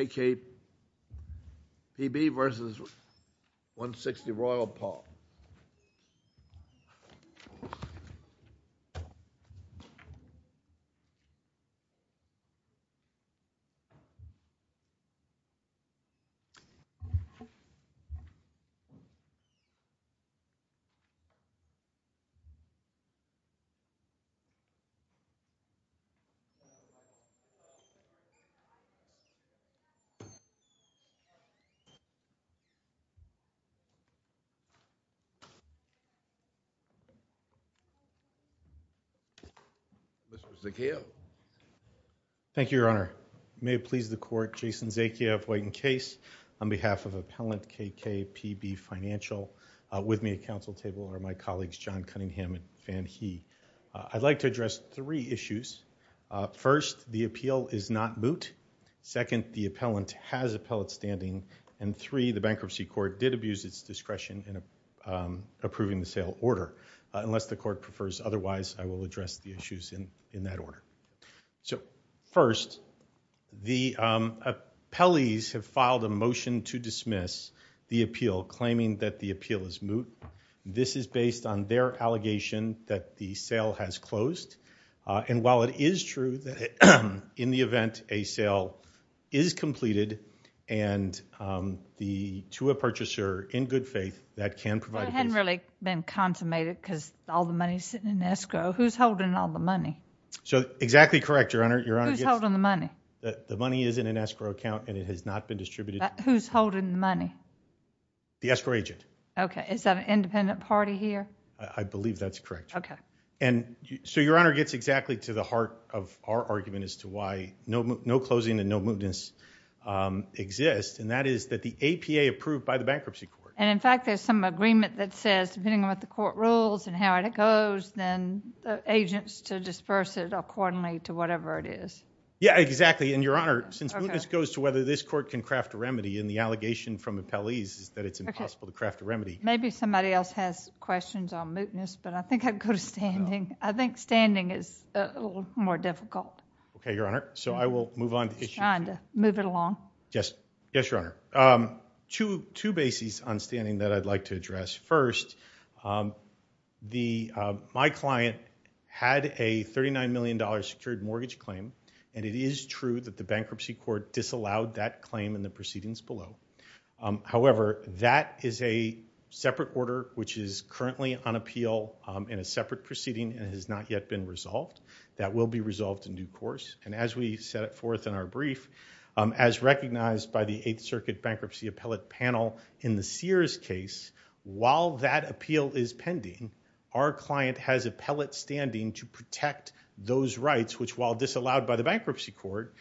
KK-PB vs. 160 Royal Palm. Thank you, Your Honor. May it please the Court, Jason Zakia of White & Case on behalf of Appellant KK-PB Financial with me at council table are my colleagues John Cunningham and Van He. I'd like to address three issues. First, the appeal is not moot. Second, the appellant has appellate standing. And three, the bankruptcy court did abuse its discretion in approving the sale order. Unless the court prefers otherwise, I will address the issues in that order. So first, the appellees have filed a motion to dismiss the appeal, claiming that the appeal is moot. This is based on their allegation that the sale has closed. And while it is true that in the event a sale is completed and the to a purchaser in good faith that can provide. It hadn't really been consummated because all the money is sitting in escrow. Who's holding all the money? So exactly correct, Your Honor. Your Honor. Who's holding the money? The money is in an escrow account and it has not been distributed. Who's holding the money? The escrow agent. Okay. Is that an independent party here? I believe that's correct. Okay. And so Your Honor gets exactly to the heart of our argument as to why no closing and no mootness exist. And that is that the APA approved by the bankruptcy court. And in fact, there's some agreement that says depending on what the court rules and how it goes, then the agents to disperse it accordingly to whatever it is. Yeah, exactly. And Your Honor, since mootness goes to whether this court can craft a remedy in the allegation from appellees is that it's impossible to craft a remedy. Maybe somebody else has questions on mootness, but I think I'd go to standing. I think standing is a little more difficult. Okay, Your Honor. So I will move on. Move it along. Yes. Yes, Your Honor. Two bases on standing that I'd like to address. First, my client had a $39 million secured mortgage claim. And it is true that the bankruptcy court disallowed that claim in the proceedings below. However, that is a separate order, which is currently on appeal in a separate proceeding and has not yet been resolved. That will be resolved in due course. And as we set forth in our brief, as recognized by the Eighth Circuit Bankruptcy Appellate Panel in the Sears case, while that appeal is pending, our client has appellate standing to protect those rights, which while disallowed by the bankruptcy court,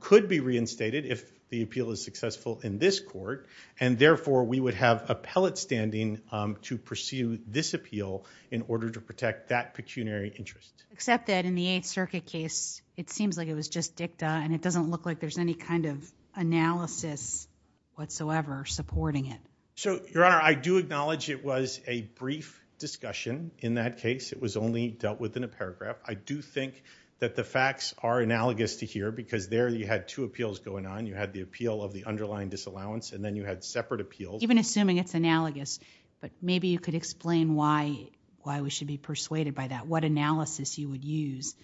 could be reinstated if the appeal is successful in this court. And therefore, we would have appellate standing to pursue this appeal in order to protect that pecuniary interest. Except that in the Eighth Circuit case, it seems like it was just dicta, and it doesn't look like there's any kind of analysis whatsoever supporting it. So, Your Honor, I do acknowledge it was a brief discussion in that case. It was only dealt with in a paragraph. I do think that the facts are analogous to here, because there you had two appeals going on. You had the appeal of the underlying disallowance, and then you had separate appeals. Even assuming it's analogous, but maybe you could explain why we should be persuaded by that. What analysis you would use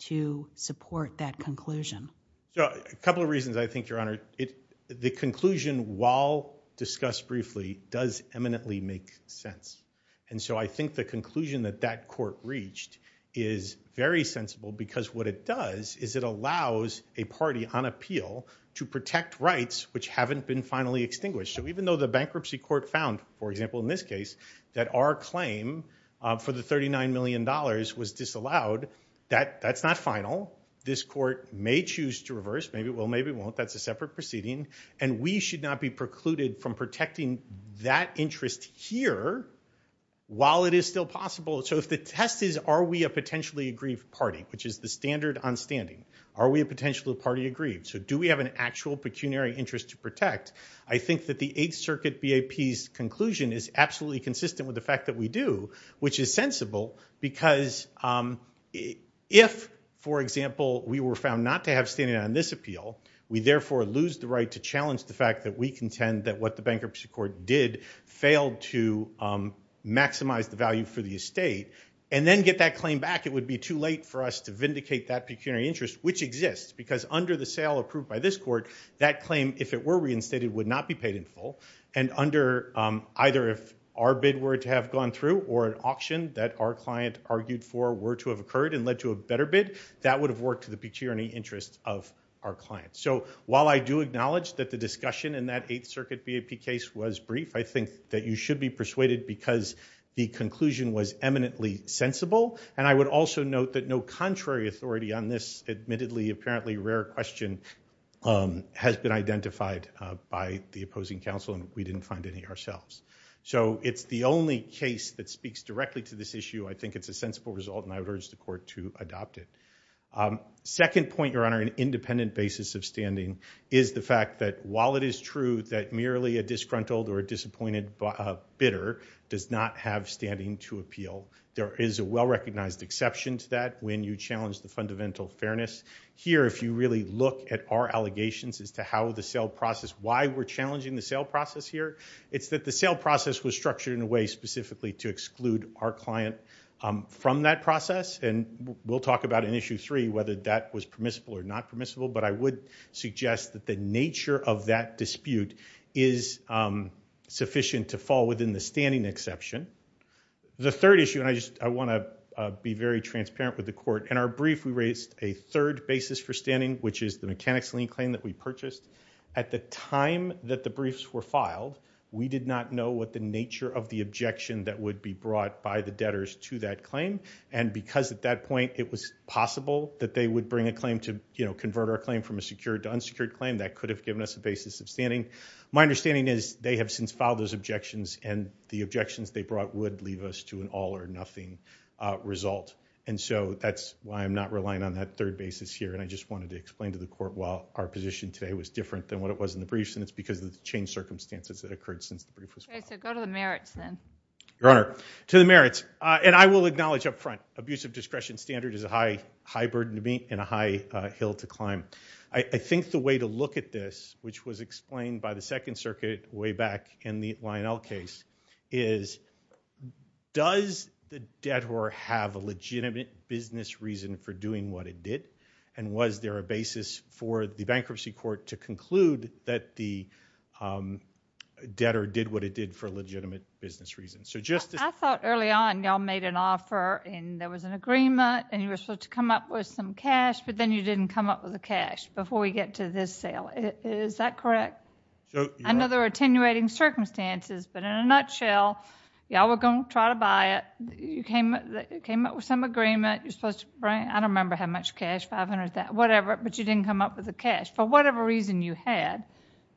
to support that conclusion? So, a couple of reasons, I think, Your Honor. The conclusion, while discussed briefly, does eminently make sense. And so, I think the conclusion that that court reached is very sensible because what it does is it allows a party on appeal to protect rights which haven't been finally extinguished. So, even though the bankruptcy court found, for example, in this case, that our claim for the $39 million was disallowed, that's not final. This court may choose to reverse. Maybe it will, maybe it won't. That's a separate proceeding. And we should not be precluded from protecting that interest here while it is still possible. So, if the test is, are we a potentially aggrieved party, which is the standard on standing, are we a potentially party aggrieved? So, do we have an actual pecuniary interest to protect? I think that the Eighth Circuit BAP's conclusion is absolutely consistent with the fact that we do, which is sensible because if, for example, we were found not to have standing on this to challenge the fact that we contend that what the bankruptcy court did failed to maximize the value for the estate and then get that claim back, it would be too late for us to vindicate that pecuniary interest, which exists because under the sale approved by this court, that claim, if it were reinstated, would not be paid in full. And under either if our bid were to have gone through or an auction that our client argued for were to have occurred and led to a better bid, that would have worked to the pecuniary interest of our client. So, while I do acknowledge that the discussion in that Eighth Circuit BAP case was brief, I think that you should be persuaded because the conclusion was eminently sensible. And I would also note that no contrary authority on this admittedly apparently rare question has been identified by the opposing counsel and we didn't find any ourselves. So, it's the only case that speaks directly to this issue. I think it's a sensible result and I would urge the court to adopt it. Second point, Your Honor, an independent basis of standing is the fact that while it is true that merely a disgruntled or disappointed bidder does not have standing to appeal, there is a well-recognized exception to that when you challenge the fundamental fairness. Here, if you really look at our allegations as to how the sale process, why we're challenging the sale process here, it's that the sale process was structured in a way specifically to exclude our client from that process. And we'll talk about in Issue 3 whether that was permissible or not permissible, but I would suggest that the nature of that dispute is sufficient to fall within the standing exception. The third issue, and I just want to be very transparent with the court, in our brief, we raised a third basis for standing, which is the mechanics lien claim that we purchased. At the time that the briefs were filed, we did not know what the nature of the objection that would be brought by the debtors to that claim. And because at that point it was possible that they would bring a claim to, you know, convert our claim from a secured to unsecured claim, that could have given us a basis of standing. My understanding is they have since filed those objections, and the objections they brought would leave us to an all or nothing result. And so that's why I'm not relying on that third basis here. And I just wanted to explain to the court why our position today was different than what it was in the briefs, and it's because of the changed circumstances that occurred since the brief was filed. So go to the merits, then. Your Honor, to the merits. And I will acknowledge up front, abuse of discretion standard is a high burden to me and a high hill to climb. I think the way to look at this, which was explained by the Second Circuit way back in the Lionel case, is does the debtor have a legitimate business reason for doing what it did, and was there a basis for the bankruptcy court to conclude that the debtor did what it did for legitimate business reasons? I thought early on y'all made an offer, and there was an agreement, and you were supposed to come up with some cash, but then you didn't come up with the cash before we get to this sale. Is that correct? I know there were attenuating circumstances, but in a nutshell, y'all were going to try to buy it, you came up with some agreement, you're supposed to bring, I don't remember how much cash, 500, whatever, but you didn't come up with the cash. For whatever reason you had,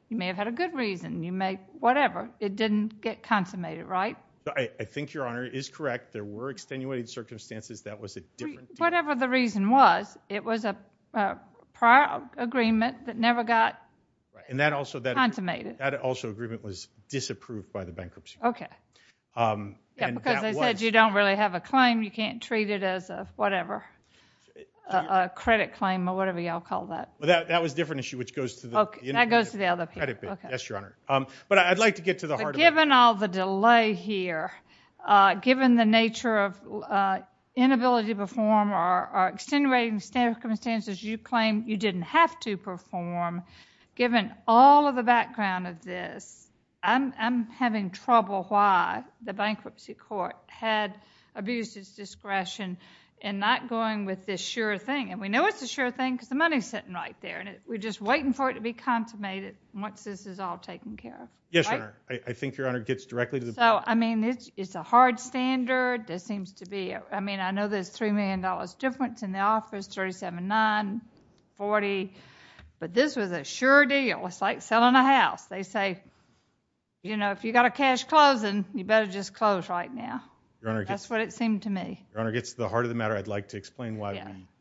you may have had a good reason, you may, whatever, it didn't get consummated, right? I think, Your Honor, it is correct. There were attenuating circumstances. That was a different deal. Whatever the reason was, it was a prior agreement that never got consummated. That also agreement was disapproved by the bankruptcy court. Okay. Because they said you don't really have a claim, you can't treat it as a whatever, a credit claim or whatever y'all call that. That was a different issue, which goes to the— Okay, that goes to the other— Yes, Your Honor. But I'd like to get to the heart of— Given all the delay here, given the nature of inability to perform or extenuating circumstances you claim you didn't have to perform, given all of the background of this, I'm having trouble why the bankruptcy court had abused its discretion in not going with this sure thing. And we know it's a sure thing because the money's sitting right there. We're just waiting for it to be consummated once this is all taken care of. Yes, Your Honor. I think Your Honor gets directly to the— So, I mean, it's a hard standard. There seems to be—I mean, I know there's $3 million difference in the office, $37,940. But this was a sure deal. It's like selling a house. They say, you know, if you got a cash closing, you better just close right now. Your Honor— That's what it seemed to me. Your Honor, it gets to the heart of the matter. I'd like to explain why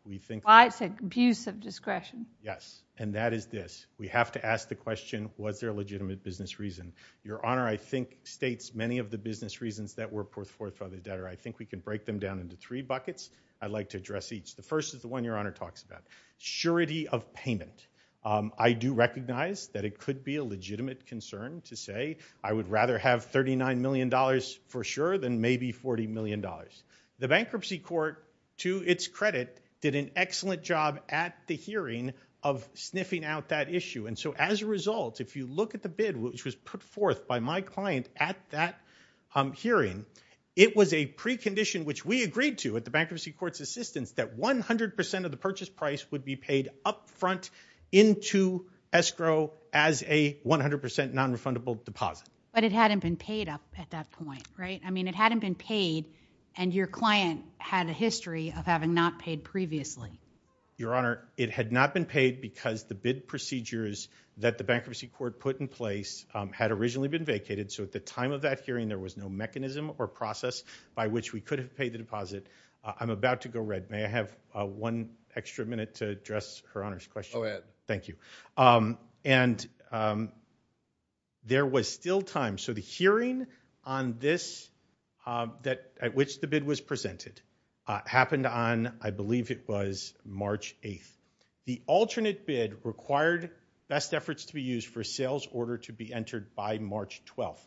we think— Why it's an abuse of discretion. Yes. And that is this. We have to ask the question, was there a legitimate business reason? Your Honor, I think, states many of the business reasons that were put forth by the debtor. I think we can break them down into three buckets. I'd like to address each. The first is the one Your Honor talks about. Surety of payment. I do recognize that it could be a legitimate concern to say, I would rather have $39 million for sure than maybe $40 million. The bankruptcy court, to its credit, did an excellent job at the hearing of sniffing out that issue. So as a result, if you look at the bid, which was put forth by my client at that hearing, it was a precondition, which we agreed to at the bankruptcy court's assistance, that 100 percent of the purchase price would be paid up front into escrow as a 100 percent nonrefundable deposit. But it hadn't been paid up at that point, right? I mean, it hadn't been paid, and your client had a history of having not paid previously. Your Honor, it had not been paid because the bid procedures that the bankruptcy court put in place had originally been vacated. So at the time of that hearing, there was no mechanism or process by which we could have paid the deposit. I'm about to go red. May I have one extra minute to address Her Honor's question? Go ahead. Thank you. And there was still time. So the hearing on this, at which the bid was presented, happened on, I believe it was March 8th. The alternate bid required best efforts to be used for a sales order to be entered by March 12th.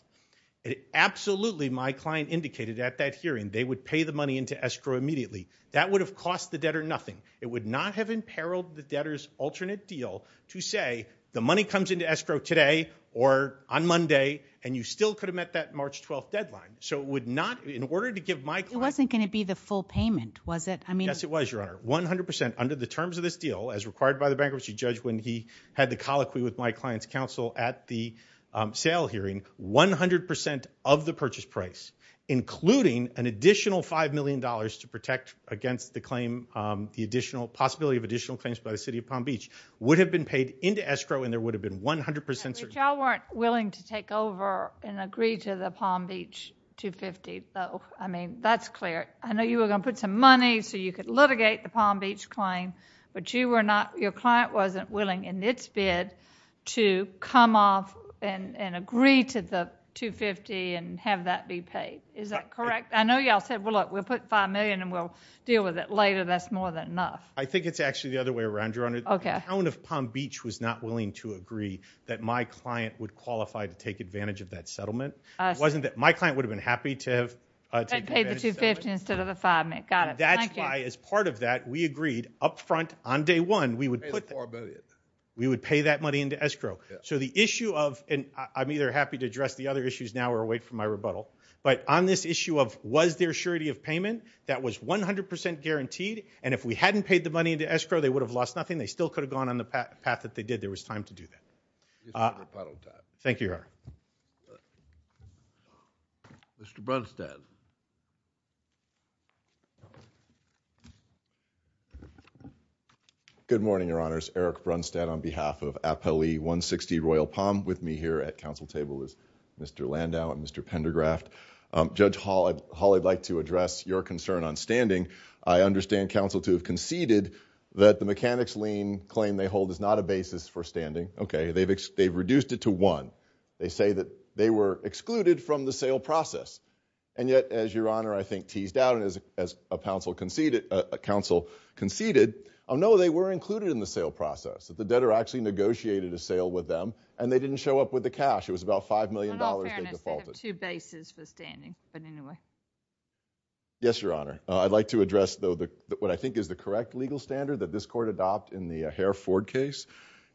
Absolutely, my client indicated at that hearing, they would pay the money into escrow immediately. That would have cost the debtor nothing. It would not have imperiled the debtor's alternate deal to say, the money comes into escrow today or on Monday, and you still could have met that March 12th deadline. So it would not, in order to give my client- It wasn't going to be the full payment, was it? Yes, it was, Your Honor. 100%, under the terms of this deal, as required by the bankruptcy judge when he had the colloquy with my client's counsel at the sale hearing, 100% of the purchase price, including an additional $5 million to protect against the claim, the additional possibility of additional claims by the city of Palm Beach, would have been paid into escrow, and there would have been 100%- If y'all weren't willing to take over and agree to the Palm Beach 250, though, I mean, that's clear. I know you were going to put some money so you could litigate the Palm Beach claim, but you were not, your client wasn't willing, in its bid, to come off and agree to the 250 and have that be paid. Is that correct? I know y'all said, well, look, we'll put $5 million and we'll deal with it later. That's more than enough. I think it's actually the other way around, Your Honor. The town of Palm Beach was not willing to agree that my client would qualify to take advantage of that settlement. My client would have been happy to have- To have paid the 250 instead of the $5 million. Got it. That's why, as part of that, we agreed up front, on day one, we would put- Pay the $4 million. We would pay that money into escrow. So the issue of, and I'm either happy to address the other issues now or wait for my rebuttal, but on this issue of, was there surety of payment? That was 100% guaranteed, and if we hadn't paid the money into escrow, they would have lost nothing. They still could have gone on the path that they did. There was time to do that. Thank you, Your Honor. Mr. Brunstad. Good morning, Your Honors. Eric Brunstad on behalf of Appellee 160 Royal Palm. With me here at counsel table is Mr. Landau and Mr. Pendergraft. Judge Hall, I'd like to address your concern on standing. I understand counsel to have conceded that the mechanics lien claim they hold is not a basis for standing. Okay, they've reduced it to one. They say that they were excluded from the sale process. And yet, as Your Honor, I think, teased out and as a counsel conceded, oh no, they were included in the sale process. The debtor actually negotiated a sale with them, and they didn't show up with the cash. It was about $5 million they defaulted. In all fairness, they have two bases for standing, but anyway. Yes, Your Honor. I'd like to address, though, what I think is the correct legal standard that this court adopt in the Hare-Ford case,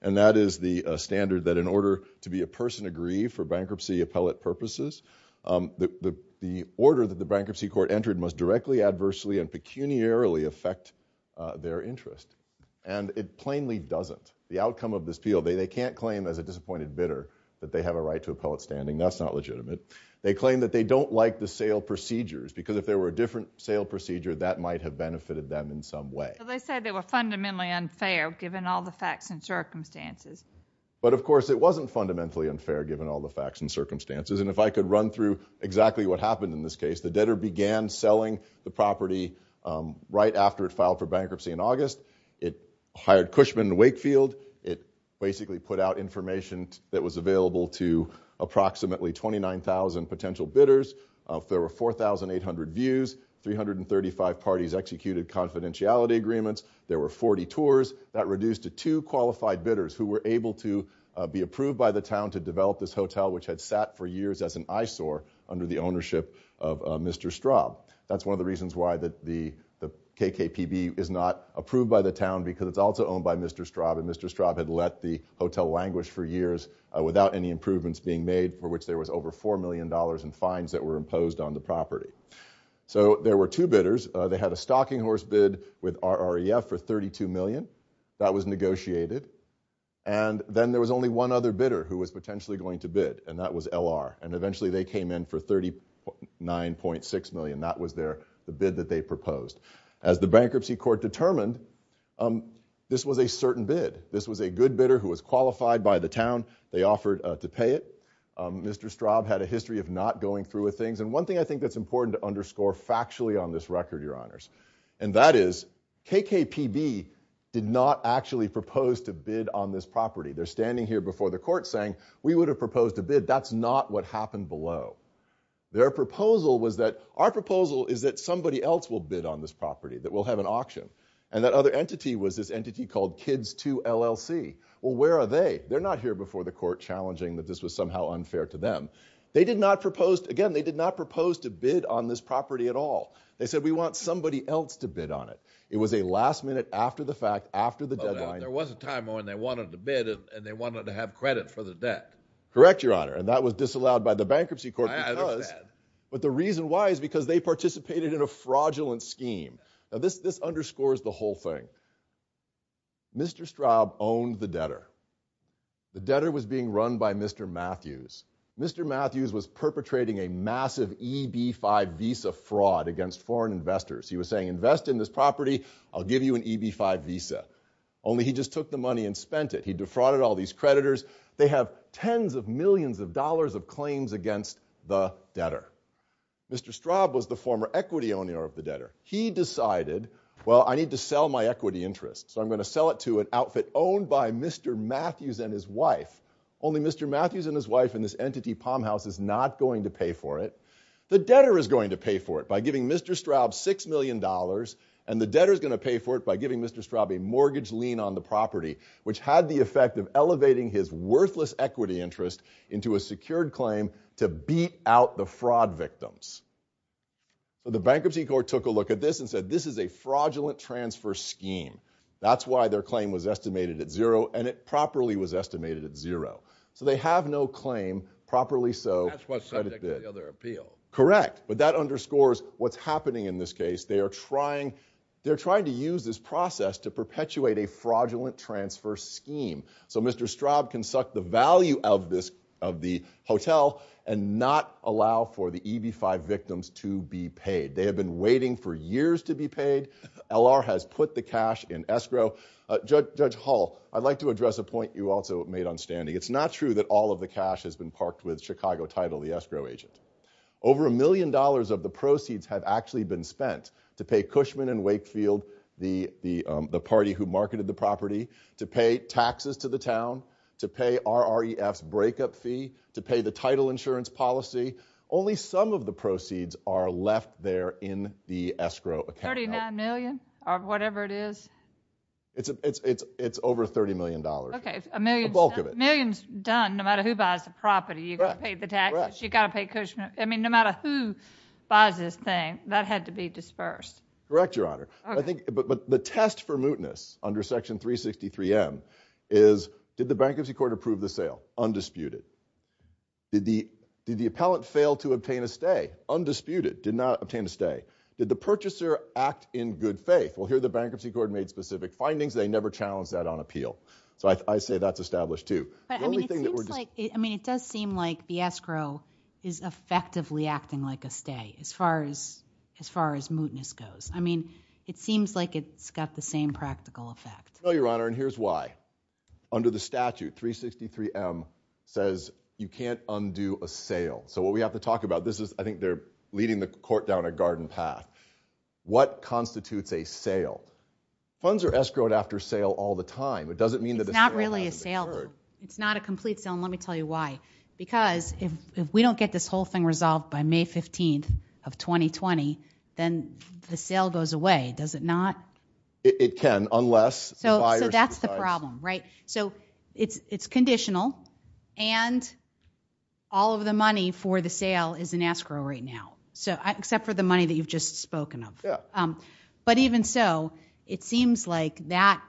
and that is the standard that in order to be a person agree for bankruptcy appellate purposes, the order that the bankruptcy court entered must directly, adversely, and pecuniarily affect their interest. And it plainly doesn't. The outcome of this field, they can't claim as a disappointed bidder that they have a right to appellate standing. That's not legitimate. They claim that they don't like the sale procedures because if there were a different sale procedure, that might have benefited them in some way. They said they were fundamentally unfair, given all the facts and circumstances. But of course, it wasn't fundamentally unfair, given all the facts and circumstances. And if I could run through exactly what happened in this case, the debtor began selling the property right after it filed for bankruptcy in August. It hired Cushman and Wakefield. It basically put out information that was available to approximately 29,000 potential bidders. There were 4,800 views. 335 parties executed confidentiality agreements. There were 40 tours. That reduced to two qualified bidders who were able to be approved by the town to develop this hotel, which had sat for years as an eyesore under the ownership of Mr. Straub. That's one of the reasons why the KKPB is not approved by the town because it's also owned by Mr. Straub. And Mr. Straub had let the hotel languish for years without any improvements being made, for which there was over $4 million in fines that were imposed on the property. So there were two bidders. They had a stocking horse bid with RREF for $32 million. That was negotiated. And then there was only one other bidder who was potentially going to bid, and that was LR. And eventually, they came in for $39.6 million. That was the bid that they proposed. As the bankruptcy court determined, this was a certain bid. This was a good bidder who was qualified by the town. Mr. Straub had a history of not going through with things. And one thing I think that's important to underscore factually on this record, Your Honors, and that is KKPB did not actually propose to bid on this property. They're standing here before the court saying, we would have proposed a bid. That's not what happened below. Our proposal is that somebody else will bid on this property, that we'll have an auction. And that other entity was this entity called Kids 2 LLC. Well, where are they? They're not here before the court challenging that this was somehow unfair to them. They did not propose, again, they did not propose to bid on this property at all. They said, we want somebody else to bid on it. It was a last minute after the fact, after the deadline. There was a time when they wanted to bid, and they wanted to have credit for the debt. Correct, Your Honor. And that was disallowed by the bankruptcy court because, but the reason why is because they participated in a fraudulent scheme. Now, this underscores the whole thing. Mr. Straub owned the debtor. The debtor was being run by Mr. Matthews. Mr. Matthews was perpetrating a massive EB-5 visa fraud against foreign investors. He was saying, invest in this property. I'll give you an EB-5 visa. Only he just took the money and spent it. He defrauded all these creditors. They have tens of millions of dollars of claims against the debtor. Mr. Straub was the former equity owner of the debtor. He decided, well, I need to sell my equity interest. So I'm going to sell it to an outfit owned by Mr. Matthews and his wife. Only Mr. Matthews and his wife and this entity, Palm House, is not going to pay for it. The debtor is going to pay for it by giving Mr. Straub $6 million, and the debtor is going to pay for it by giving Mr. Straub a mortgage lien on the property, which had the effect of elevating his worthless equity interest into a secured claim to beat out the fraud victims. The bankruptcy court took a look at this and said, this is a fraudulent transfer scheme. That's why their claim was estimated at zero, and it properly was estimated at zero. So they have no claim. Properly so. That's what the other appeal. Correct. But that underscores what's happening in this case. They are trying to use this process to perpetuate a fraudulent transfer scheme. So Mr. Straub can suck the value of the hotel and not allow for the EB-5 victims to be paid. They have been waiting for years to be paid. LR has put the cash in escrow. Judge Hall, I'd like to address a point you also made on standing. It's not true that all of the cash has been parked with Chicago Title, the escrow agent. Over a million dollars of the proceeds have actually been spent to pay Cushman and Wakefield, the party who marketed the property, to pay taxes to the town, to pay RREF's breakup fee, to pay the title insurance policy. Only some of the proceeds are left there in the escrow account. $39 million or whatever it is? It's over $30 million, the bulk of it. A million is done no matter who buys the property. You've got to pay the taxes. You've got to pay Cushman. I mean, no matter who buys this thing, that had to be dispersed. Correct, Your Honor. But the test for mootness under Section 363M is, did the bankruptcy court approve the sale? Undisputed. Did the appellant fail to obtain a stay? Undisputed. Did not obtain a stay. Did the purchaser act in good faith? Well, here the bankruptcy court made specific findings. They never challenged that on appeal. So I say that's established, too. I mean, it does seem like the escrow is effectively acting like a stay as far as mootness goes. I mean, it seems like it's got the same practical effect. No, Your Honor, and here's why. Under the statute, 363M says you can't undo a sale. So what we have to talk about, this is, I think they're leading the court down a garden path. What constitutes a sale? Funds are escrowed after sale all the time. It doesn't mean that the sale hasn't occurred. It's not really a sale, though. It's not a complete sale, and let me tell you why. Because if we don't get this whole thing resolved by May 15th of 2020, then the sale goes away. Does it not? It can, unless the buyer subsidizes. So that's the problem, right? So it's conditional, and all of the money for the sale is in escrow right now. Except for the money that you've just spoken of. But even so, it seems like that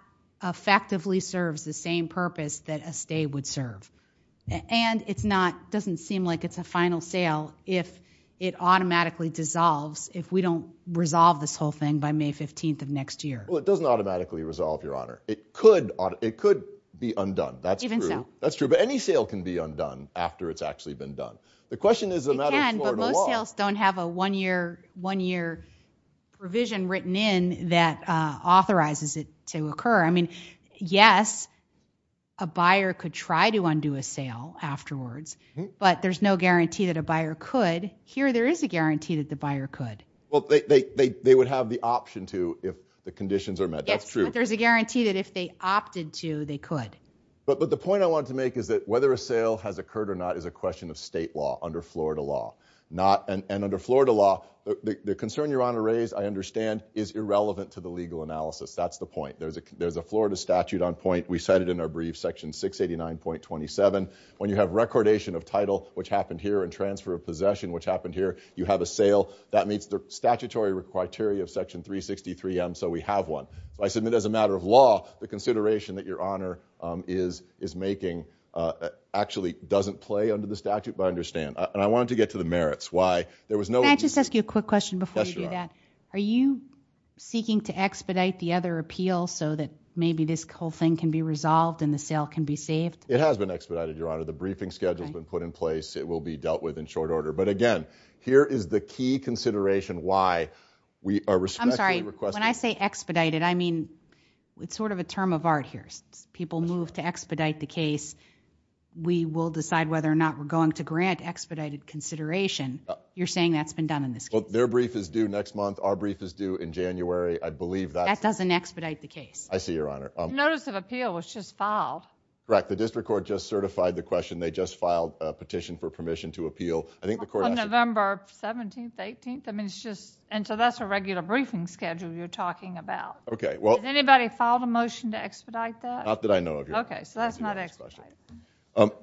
effectively serves the same purpose that a stay would serve. And it doesn't seem like it's a final sale if it automatically dissolves if we don't resolve this whole thing by May 15th of next year. Well, it doesn't automatically resolve, Your Honor. It could be undone. That's true. That's true. But any sale can be undone after it's actually been done. The question is the matter of Florida law. But most sales don't have a one-year provision written in that authorizes it to occur. I mean, yes, a buyer could try to undo a sale afterwards, but there's no guarantee that a buyer could. Here, there is a guarantee that the buyer could. Well, they would have the option to if the conditions are met. That's true. But there's a guarantee that if they opted to, they could. But the point I want to make is that whether a sale has occurred or not is a question of Florida law. And under Florida law, the concern Your Honor raised, I understand, is irrelevant to the legal analysis. That's the point. There's a Florida statute on point. We cite it in our brief, Section 689.27. When you have recordation of title, which happened here, and transfer of possession, which happened here, you have a sale. That meets the statutory criteria of Section 363M, so we have one. I submit as a matter of law, the consideration that Your Honor is making actually doesn't play under the statute. But I understand. And I wanted to get to the merits. Why? Can I just ask you a quick question before you do that? Are you seeking to expedite the other appeal so that maybe this whole thing can be resolved and the sale can be saved? It has been expedited, Your Honor. The briefing schedule has been put in place. It will be dealt with in short order. But again, here is the key consideration why we are respectfully requesting— I'm sorry. When I say expedited, I mean it's sort of a term of art here. People move to expedite the case. We will decide whether or not we're going to grant expedited consideration. You're saying that's been done in this case? Their brief is due next month. Our brief is due in January. I believe that's— That doesn't expedite the case. I see, Your Honor. Notice of appeal was just filed. Correct. The district court just certified the question. They just filed a petition for permission to appeal. I think the court— On November 17th, 18th. I mean, it's just—and so that's a regular briefing schedule you're talking about. Okay, well— Has anybody filed a motion to expedite that? Not that I know of, Your Honor. Okay, so that's not expedited. Okay.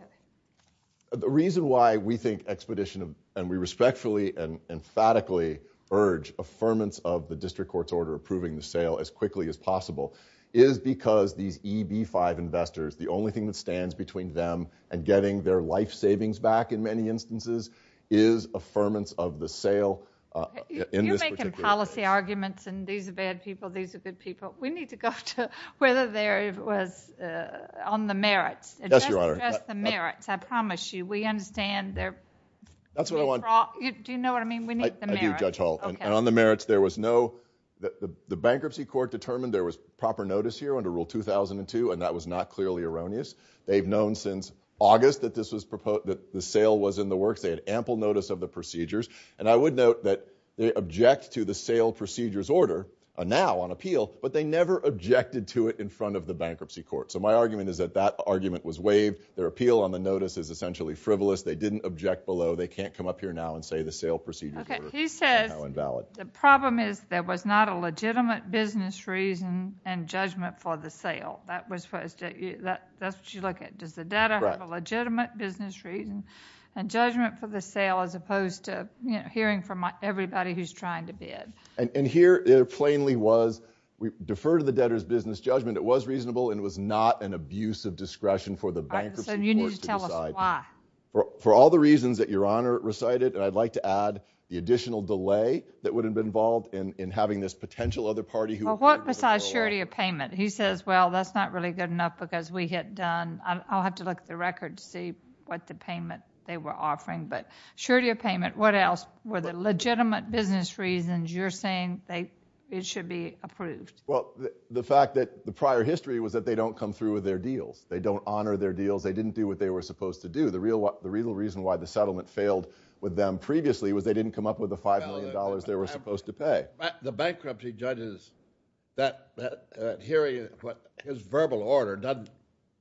The reason why we think expedition—and we respectfully and emphatically urge affirmance of the district court's order approving the sale as quickly as possible is because these EB-5 investors, the only thing that stands between them and getting their life savings back in many instances is affirmance of the sale— You're making policy arguments and these are bad people, these are good people. We need to go to whether there was—on the merits. Yes, Your Honor. Just the merits, I promise you. We understand they're— That's what I want— Do you know what I mean? We need the merits. I do, Judge Hall. And on the merits, there was no—the bankruptcy court determined there was proper notice here under Rule 2002 and that was not clearly erroneous. They've known since August that this was proposed—that the sale was in the works. They had ample notice of the procedures. And I would note that they object to the sale procedures order now on appeal, but they never objected to it in front of the bankruptcy court. So my argument is that that argument was waived. Their appeal on the notice is essentially frivolous. They didn't object below. They can't come up here now and say the sale procedures order is somehow invalid. The problem is there was not a legitimate business reason and judgment for the sale. That's what you look at. Does the data have a legitimate business reason and judgment for the sale as opposed to hearing from everybody who's trying to bid? And here, it plainly was, we defer to the debtor's business judgment. It was reasonable and it was not an abuse of discretion for the bankruptcy court to decide. All right, so you need to tell us why. For all the reasons that Your Honor recited, and I'd like to add the additional delay that would have been involved in having this potential other party who— Well, what besides surety of payment? He says, well, that's not really good enough because we had done—I'll have to look at the record to see what the payment they were offering, but surety of payment. What else? Were there legitimate business reasons you're saying it should be approved? Well, the fact that the prior history was that they don't come through with their deals. They don't honor their deals. They didn't do what they were supposed to do. The real reason why the settlement failed with them previously was they didn't come up with the $5 million they were supposed to pay. The bankruptcy judge is—his verbal order doesn't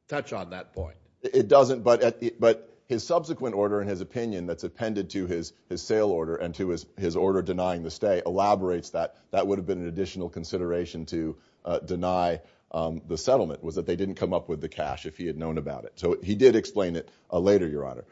touch on that point. It doesn't, but his subsequent order and his opinion that's appended to his sale order and to his order denying the stay elaborates that that would have been an additional consideration to deny the settlement was that they didn't come up with the cash if he had known about it. So he did explain it later, Your Honor.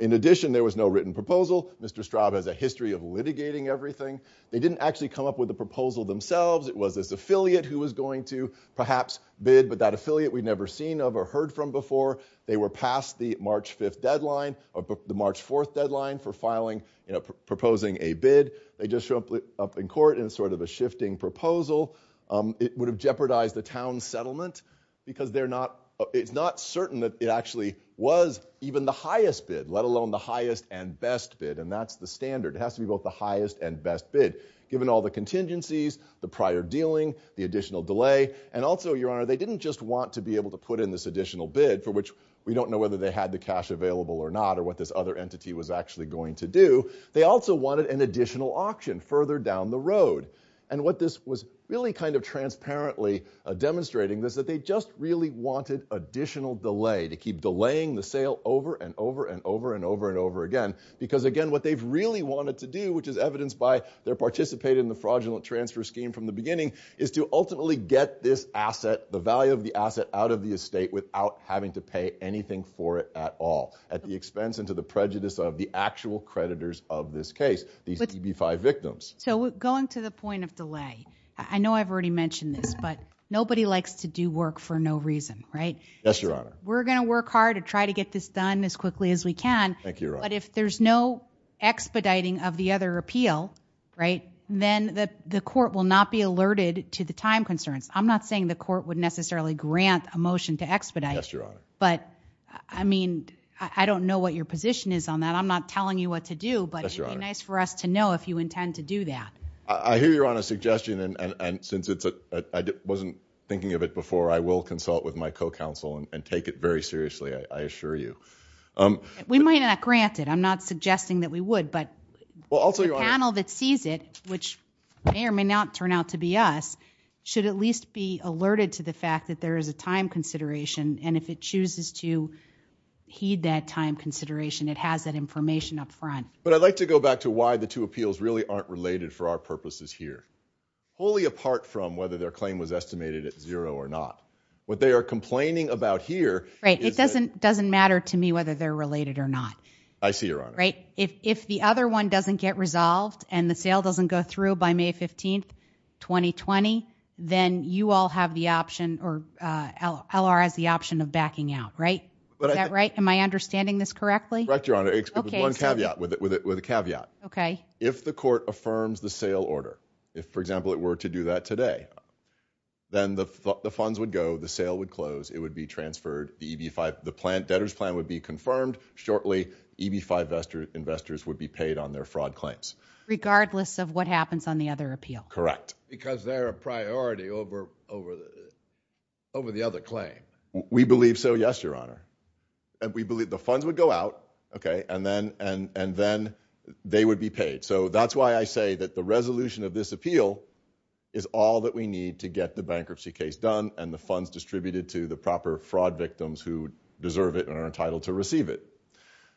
In addition, there was no written proposal. Mr. Straub has a history of litigating everything. They didn't actually come up with the proposal themselves. It was this affiliate who was going to perhaps bid, but that affiliate we'd never seen of or heard from before. They were past the March 5th deadline—the March 4th deadline for filing, you know, proposing a bid. They just show up in court in sort of a shifting proposal. It would have jeopardized the town's settlement because they're not—it's not certain that it actually was even the highest bid, let alone the highest and best bid, and that's the standard. It has to be both the highest and best bid given all the contingencies, the prior dealing, the additional delay, and also, Your Honor, they didn't just want to be able to put in this additional bid for which we don't know whether they had the cash available or not or what this other entity was actually going to do. They also wanted an additional auction further down the road, and what this was really kind of transparently demonstrating is that they just really wanted additional delay to keep delaying the sale over and over and over and over and over again because, again, what they've really wanted to do, which is evidenced by their participating in the fraudulent transfer scheme from the beginning, is to ultimately get this asset, the value of the asset, out of the estate without having to pay anything for it at all at the expense and to the prejudice of the actual creditors of this case, these EB-5 victims. So going to the point of delay, I know I've already mentioned this, but nobody likes to do work for no reason, right? Yes, Your Honor. We're going to work hard to try to get this done as quickly as we can. Thank you, Your Honor. But if there's no expediting of the other appeal, right, then the court will not be alerted to the time concerns. I'm not saying the court would necessarily grant a motion to expedite. Yes, Your Honor. But, I mean, I don't know what your position is on that. I'm not telling you what to do, but it would be nice for us to know if you intend to do that. I hear Your Honor's suggestion, and since I wasn't thinking of it before, I will consult with my co-counsel and take it very seriously, I assure you. We might not grant it. I'm not suggesting that we would, but the panel that sees it, which may or may not turn out to be us, should at least be alerted to the fact that there is a time consideration, and if it chooses to heed that time consideration, it has that information up front. But I'd like to go back to why the two appeals really aren't related for our purposes here, fully apart from whether their claim was estimated at zero or not. What they are complaining about here is that— Right. It doesn't matter to me whether they're related or not. I see, Your Honor. Right? If the other one doesn't get resolved and the sale doesn't go through by May 15, 2020, then you all have the option, or L.R. has the option of backing out, right? Is that right? Am I understanding this correctly? Correct, Your Honor. Okay. It's one caveat, with a caveat. Okay. If the court affirms the sale order, if, for example, it were to do that today, then the funds would go, the sale would close, it would be transferred, the debtors plan would be confirmed. Shortly, EB-5 investors would be paid on their fraud claims. Regardless of what happens on the other appeal. Correct. Because they're a priority over the other claim. We believe so, yes, Your Honor. We believe the funds would go out, okay, and then they would be paid. So that's why I say that the resolution of this appeal is all that we need to get the bankruptcy case done and the funds distributed to the proper fraud victims who deserve it and are entitled to receive it.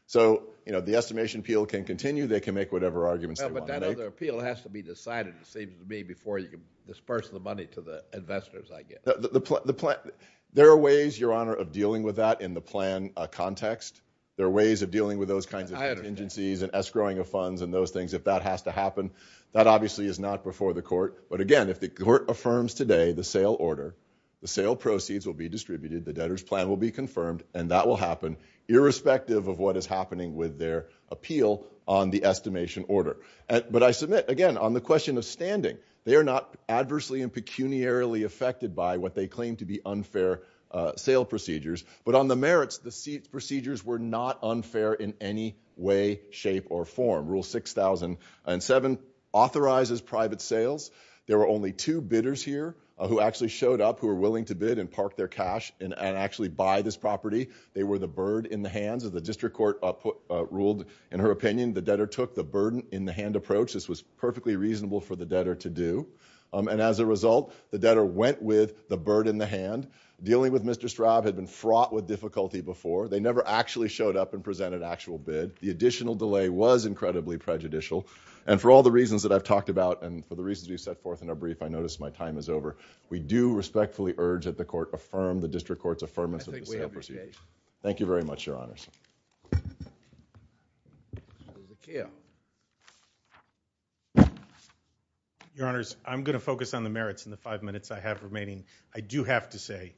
So, you know, the estimation appeal can continue. They can make whatever arguments they want. But that other appeal has to be decided, it seems to me, before you can disperse the money to the investors, I guess. There are ways, Your Honor, of dealing with that in the plan context. There are ways of dealing with those kinds of contingencies and escrowing of funds and those things if that has to happen. That obviously is not before the court. But again, if the court affirms today the sale order, the sale proceeds will be distributed, the debtor's plan will be confirmed, and that will happen irrespective of what is happening with their appeal on the estimation order. But I submit, again, on the question of standing, they are not adversely and pecuniarily affected by what they claim to be unfair sale procedures. But on the merits, the procedures were not unfair in any way, shape, or form. Rule 6007 authorizes private sales. There were only two bidders here who actually showed up who were willing to bid and park their cash and actually buy this property. They were the bird in the hands. As the district court ruled in her opinion, the debtor took the bird in the hand approach. This was perfectly reasonable for the debtor to do. And as a result, the debtor went with the bird in the hand. Dealing with Mr. Straub had been fraught with difficulty before. They never actually showed up and presented an actual bid. The additional delay was incredibly prejudicial. And for all the reasons that I've talked about, and for the reasons we've set forth in our brief, I notice my time is over. We do respectfully urge that the court affirm the district court's affirmance of the sale procedure. Thank you very much, Your Honors. Your Honors, I'm going to focus on the merits in the five minutes I have remaining. I do have to say,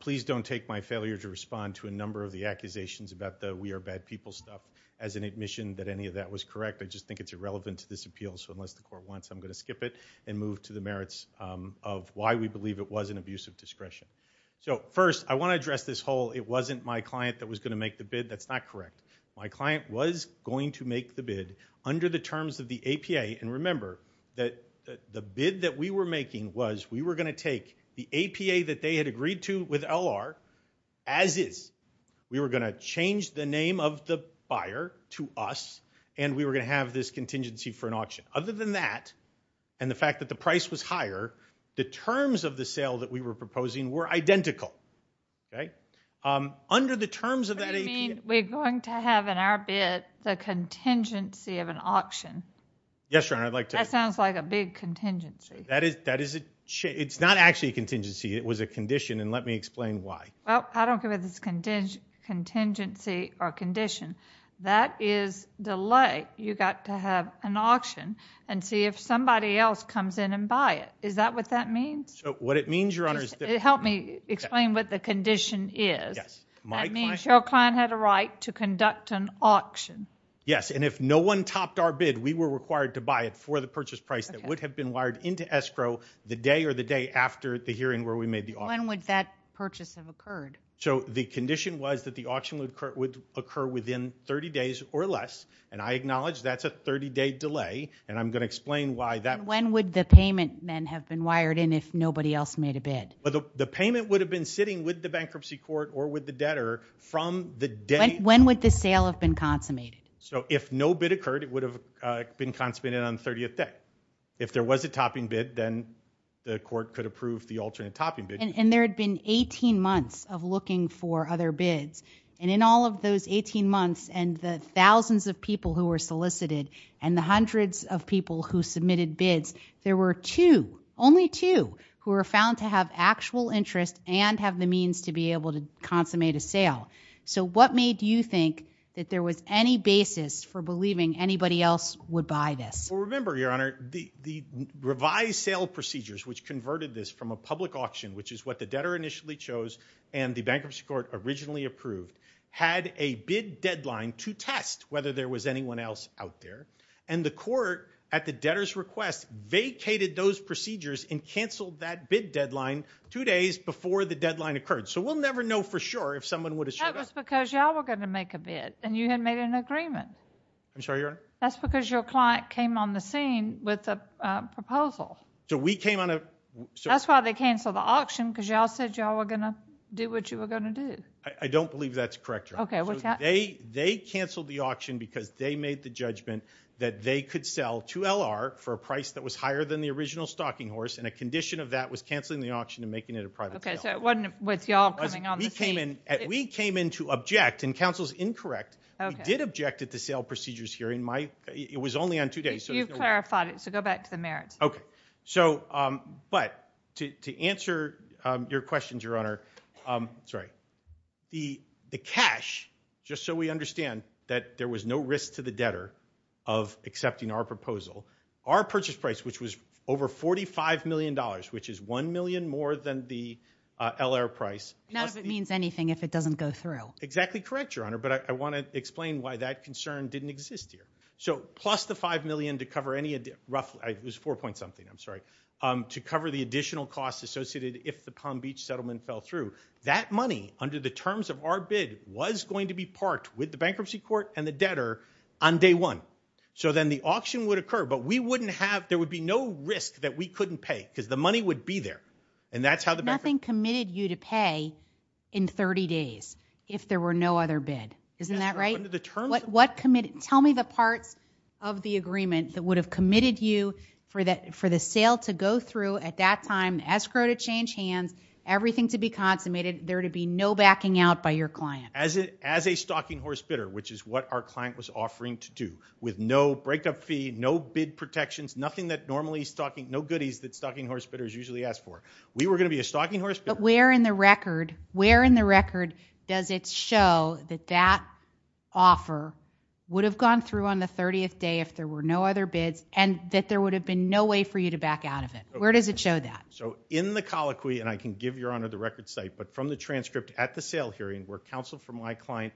please don't take my failure to respond to a number of the accusations about the we are bad people stuff as an admission that any of that was correct. I just think it's irrelevant to this appeal. So unless the court wants, I'm going to skip it and move to the merits of why we believe it was an abuse of discretion. So first, I want to address this whole it wasn't my client that was going to make the bid. That's not correct. My client was going to make the bid under the terms of the APA. And remember that the bid that we were making was we were going to take the APA that they had agreed to with L.R. as is. We were going to change the name of the buyer to us, and we were going to have this contingency for an auction. Other than that, and the fact that the price was higher, the terms of the sale that we were proposing were identical, okay? Under the terms of that APA. What do you mean we're going to have in our bid the contingency of an auction? Yes, Your Honor, I'd like to. That sounds like a big contingency. That is a it's not actually a contingency. It was a condition, and let me explain why. Well, I don't care whether it's contingency or condition. That is delay. You've got to have an auction and see if somebody else comes in and buy it. Is that what that means? So what it means, Your Honor, is that Help me explain what the condition is. That means your client had a right to conduct an auction. Yes, and if no one topped our bid, we were required to buy it for the purchase price that would have been wired into escrow the day or the day after the hearing where we made the offer. When would that purchase have occurred? So the condition was that the auction would occur within 30 days or less, and I acknowledge that's a 30-day delay, and I'm going to explain why that. When would the payment then have been wired in if nobody else made a bid? The payment would have been sitting with the bankruptcy court or with the debtor from the day. When would the sale have been consummated? So if no bid occurred, it would have been consummated on the 30th day. If there was a topping bid, then the court could approve the alternate topping bid. And there had been 18 months of looking for other bids, and in all of those 18 months and the thousands of people who were solicited and the hundreds of people who submitted bids, there were two, only two, who were found to have actual interest and have the means to be able to consummate a sale. So what made you think that there was any basis for believing anybody else would buy this? Remember, Your Honor, the revised sale procedures which converted this from a public auction, which is what the debtor initially chose and the bankruptcy court originally approved, had a bid deadline to test whether there was anyone else out there. And the court, at the debtor's request, vacated those procedures and canceled that bid deadline two days before the deadline occurred. So we'll never know for sure if someone would have showed up. That was because y'all were going to make a bid and you hadn't made an agreement. I'm sorry, Your Honor? That's because your client came on the scene with a proposal. So we came on a... That's why they canceled the auction, because y'all said y'all were going to do what you were going to do. I don't believe that's correct, Your Honor. Okay. They canceled the auction because they made the judgment that they could sell 2LR for a price that was higher than the original stocking horse, and a condition of that was canceling the auction and making it a private sale. Okay, so it wasn't with y'all coming on the scene. We came in to object, and counsel's incorrect. We did object at the sale procedures hearing. It was only on two days. You've clarified it, so go back to the merits. Okay. But to answer your questions, Your Honor... Sorry. The cash, just so we understand that there was no risk to the debtor of accepting our proposal, our purchase price, which was over $45 million, which is $1 million more than the LR price... None of it means anything if it doesn't go through. Exactly correct, Your Honor, but I want to explain why that concern didn't exist here. So, plus the $5 million to cover any... Roughly, it was 4 point something, I'm sorry, to cover the additional costs associated if the Palm Beach settlement fell through. That money, under the terms of our bid, was going to be parked with the bankruptcy court and the debtor on day one. So then the auction would occur, but we wouldn't have... There would be no risk that we couldn't pay, because the money would be there. And that's how the bank... Nothing committed you to pay in 30 days. If there were no other bid, isn't that right? What committed... Tell me the parts of the agreement that would have committed you for the sale to go through at that time, escrow to change hands, everything to be consummated, there to be no backing out by your client. As a stocking horse bidder, which is what our client was offering to do, with no break-up fee, no bid protections, nothing that normally stocking... No goodies that stocking horse bidders usually ask for. We were going to be a stocking horse bidder... Where in the record does it show that that offer would have gone through on the 30th day if there were no other bids, and that there would have been no way for you to back out of it? Where does it show that? So in the colloquy, and I can give Your Honor the record site, but from the transcript at the sale hearing, where counsel from my client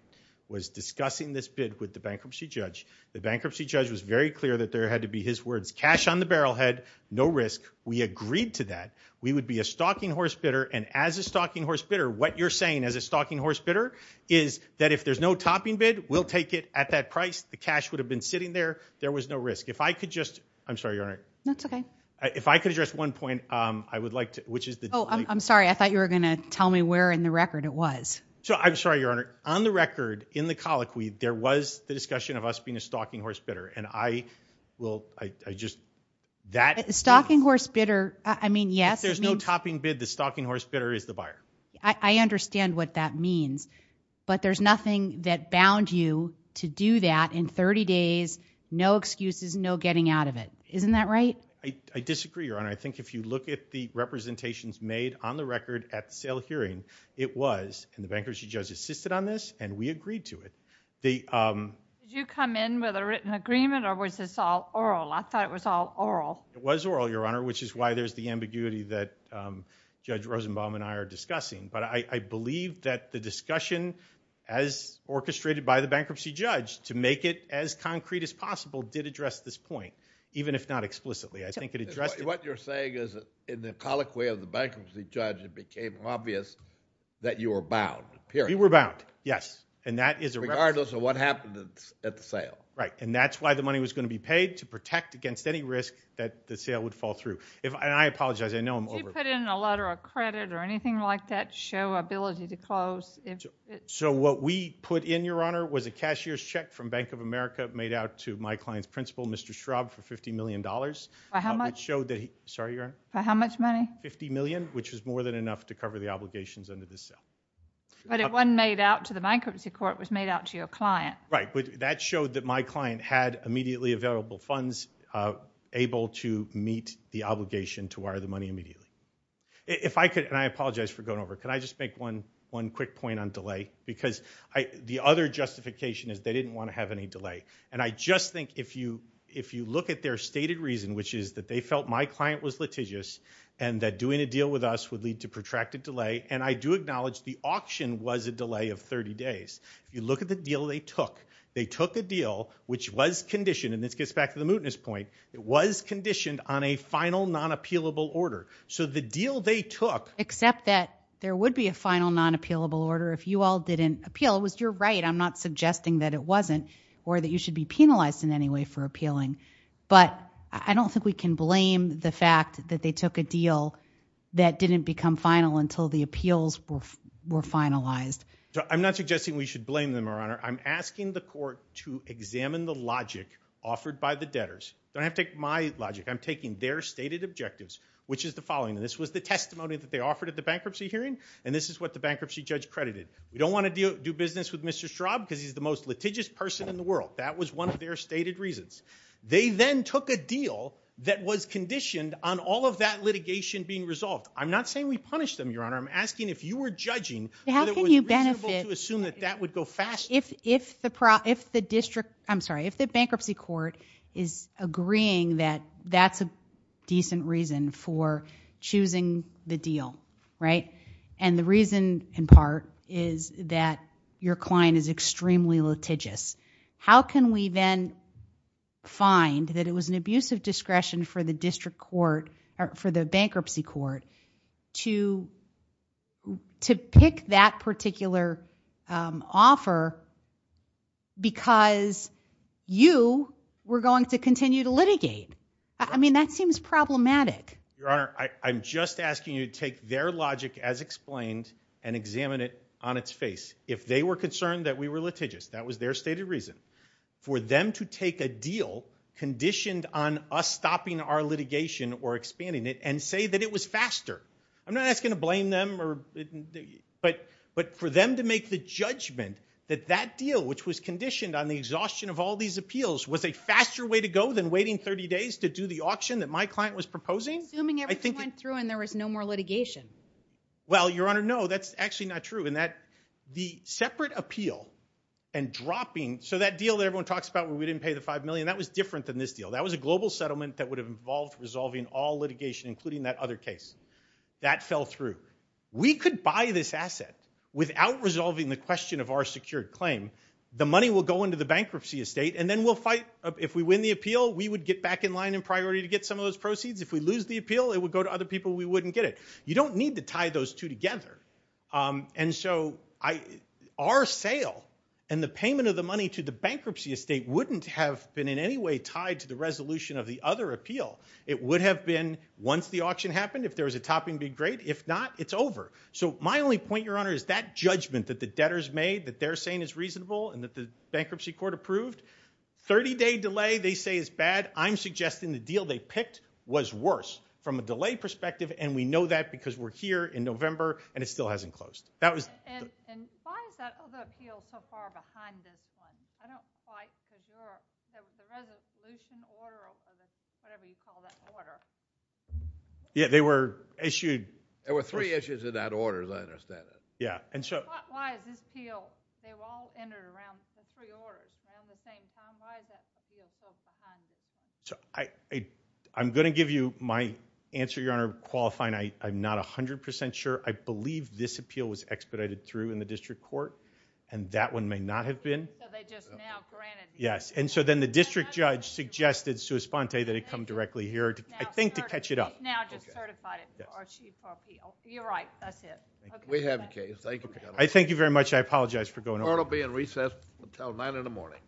was discussing this bid with the bankruptcy judge, the bankruptcy judge was very clear that there had to be his words, cash on the barrel head, no risk. We agreed to that. We would be a stocking horse bidder, and as a stocking horse bidder, what you're saying as a stocking horse bidder is that if there's no topping bid, we'll take it at that price. The cash would have been sitting there. There was no risk. If I could just... I'm sorry, Your Honor. That's okay. If I could address one point I would like to, which is the... Oh, I'm sorry. I thought you were going to tell me where in the record it was. So I'm sorry, Your Honor. On the record, in the colloquy, there was the discussion of us being a stocking horse bidder, and I will... Stocking horse bidder, I mean, yes. If there's no topping bid, the stocking horse bidder is the buyer. I understand what that means, but there's nothing that bound you to do that in 30 days, no excuses, no getting out of it. Isn't that right? I disagree, Your Honor. I think if you look at the representations made on the record at the sale hearing, it was, and the bankruptcy judge assisted on this, and we agreed to it. Did you come in with a written agreement, or was this all oral? I thought it was all oral. It was oral, Your Honor, which is why there's the ambiguity that Judge Rosenbaum and I are discussing, but I believe that the discussion, as orchestrated by the bankruptcy judge, to make it as concrete as possible, did address this point, even if not explicitly. I think it addressed... What you're saying is in the colloquy of the bankruptcy judge, it became obvious that you were bound, period. We were bound, yes, and that is... Regardless of what happened at the sale. Right, and that's why the money was going to be paid, to protect against any risk that the sale would fall through. And I apologize, I know I'm over... Did you put in a letter of credit or anything like that to show ability to close? So what we put in, Your Honor, was a cashier's check from Bank of America made out to my client's principal, Mr. Schraub, for $50 million. By how much? Which showed that he... Sorry, Your Honor? By how much money? $50 million, which was more than enough to cover the obligations under the sale. But it wasn't made out to the bankruptcy court, it was made out to your client. Right, but that showed that my client had immediately available funds, able to meet the obligation to wire the money immediately. If I could, and I apologize for going over, can I just make one quick point on delay? Because the other justification is they didn't want to have any delay. And I just think if you look at their stated reason, which is that they felt my client was litigious, and that doing a deal with us would lead to protracted delay, and I do acknowledge the auction was a delay of 30 days. If you look at the deal they took, they took a deal which was conditioned, and this gets back to the mootness point, it was conditioned on a final non-appealable order. So the deal they took... Except that there would be a final non-appealable order if you all didn't appeal. It was your right, I'm not suggesting that it wasn't, or that you should be penalized in any way for appealing. But I don't think we can blame the fact that they took a deal that didn't become final until the appeals were finalized. I'm not suggesting we should blame them, Your Honor. I'm asking the court to examine the logic offered by the debtors. Don't have to take my logic. I'm taking their stated objectives, which is the following. This was the testimony that they offered at the bankruptcy hearing, and this is what the bankruptcy judge credited. We don't want to do business with Mr. Straub because he's the most litigious person in the world. That was one of their stated reasons. They then took a deal that was conditioned on all of that litigation being resolved. I'm not saying we punish them, Your Honor. I'm asking if you were judging... How can you benefit... To assume that that would go fast. If the district... I'm sorry, if the bankruptcy court is agreeing that that's a decent reason for choosing the deal, right? And the reason, in part, is that your client is extremely litigious. How can we then find that it was an abuse of discretion for the district court, for the bankruptcy court, to pick that particular offer because you were going to continue to litigate? I mean, that seems problematic. Your Honor, I'm just asking you to take their logic as explained and examine it on its face. If they were concerned that we were litigious, that was their stated reason. For them to take a deal conditioned on us stopping our litigation or expanding it and say that it was faster, I'm not asking to blame them, but for them to make the judgment that that deal, which was conditioned on the exhaustion of all these appeals, was a faster way to go than waiting 30 days to do the auction that my client was proposing... Assuming everything went through and there was no more litigation. Well, Your Honor, no, that's actually not true. The separate appeal and dropping... So that deal that everyone talks about where we didn't pay the $5 million, that was different than this deal. That was a global settlement that would have involved resolving all litigation, including that other case. That fell through. We could buy this asset without resolving the question of our secured claim. The money will go into the bankruptcy estate and then we'll fight. If we win the appeal, we would get back in line and priority to get some of those proceeds. If we lose the appeal, it would go to other people. We wouldn't get it. You don't need to tie those two together. And so our sale and the payment of the money to the bankruptcy estate wouldn't have been in any way tied to the resolution of the other appeal. It would have been once the auction happened, if there was a topping being great. If not, it's over. So my only point, Your Honor, is that judgment that the debtors made, that they're saying is reasonable and that the bankruptcy court approved, 30-day delay, they say is bad. I'm suggesting the deal they picked was worse from a delay perspective. And we know that because we're here in November and it still hasn't closed. And why is that other appeal so far behind this one? I don't quite figure out. There was a resolution order or whatever you call that order. Yeah, they were issued. There were three issues in that order, as I understand it. Yeah. And so why is this appeal, they were all entered around the three orders around the same time. Why is that appeal so behind? I'm going to give you my answer, Your Honor, qualifying. I'm not 100% sure. I believe this appeal was expedited through in the district court. And that one may not have been. So they just now granted you. Yes. And so then the district judge suggested sui sponte that it come directly here, I think, to catch it up. Now just certified it. You're right. That's it. We have a case. Thank you, Your Honor. I thank you very much. I apologize for going over. Court will be in recess until 9 in the morning.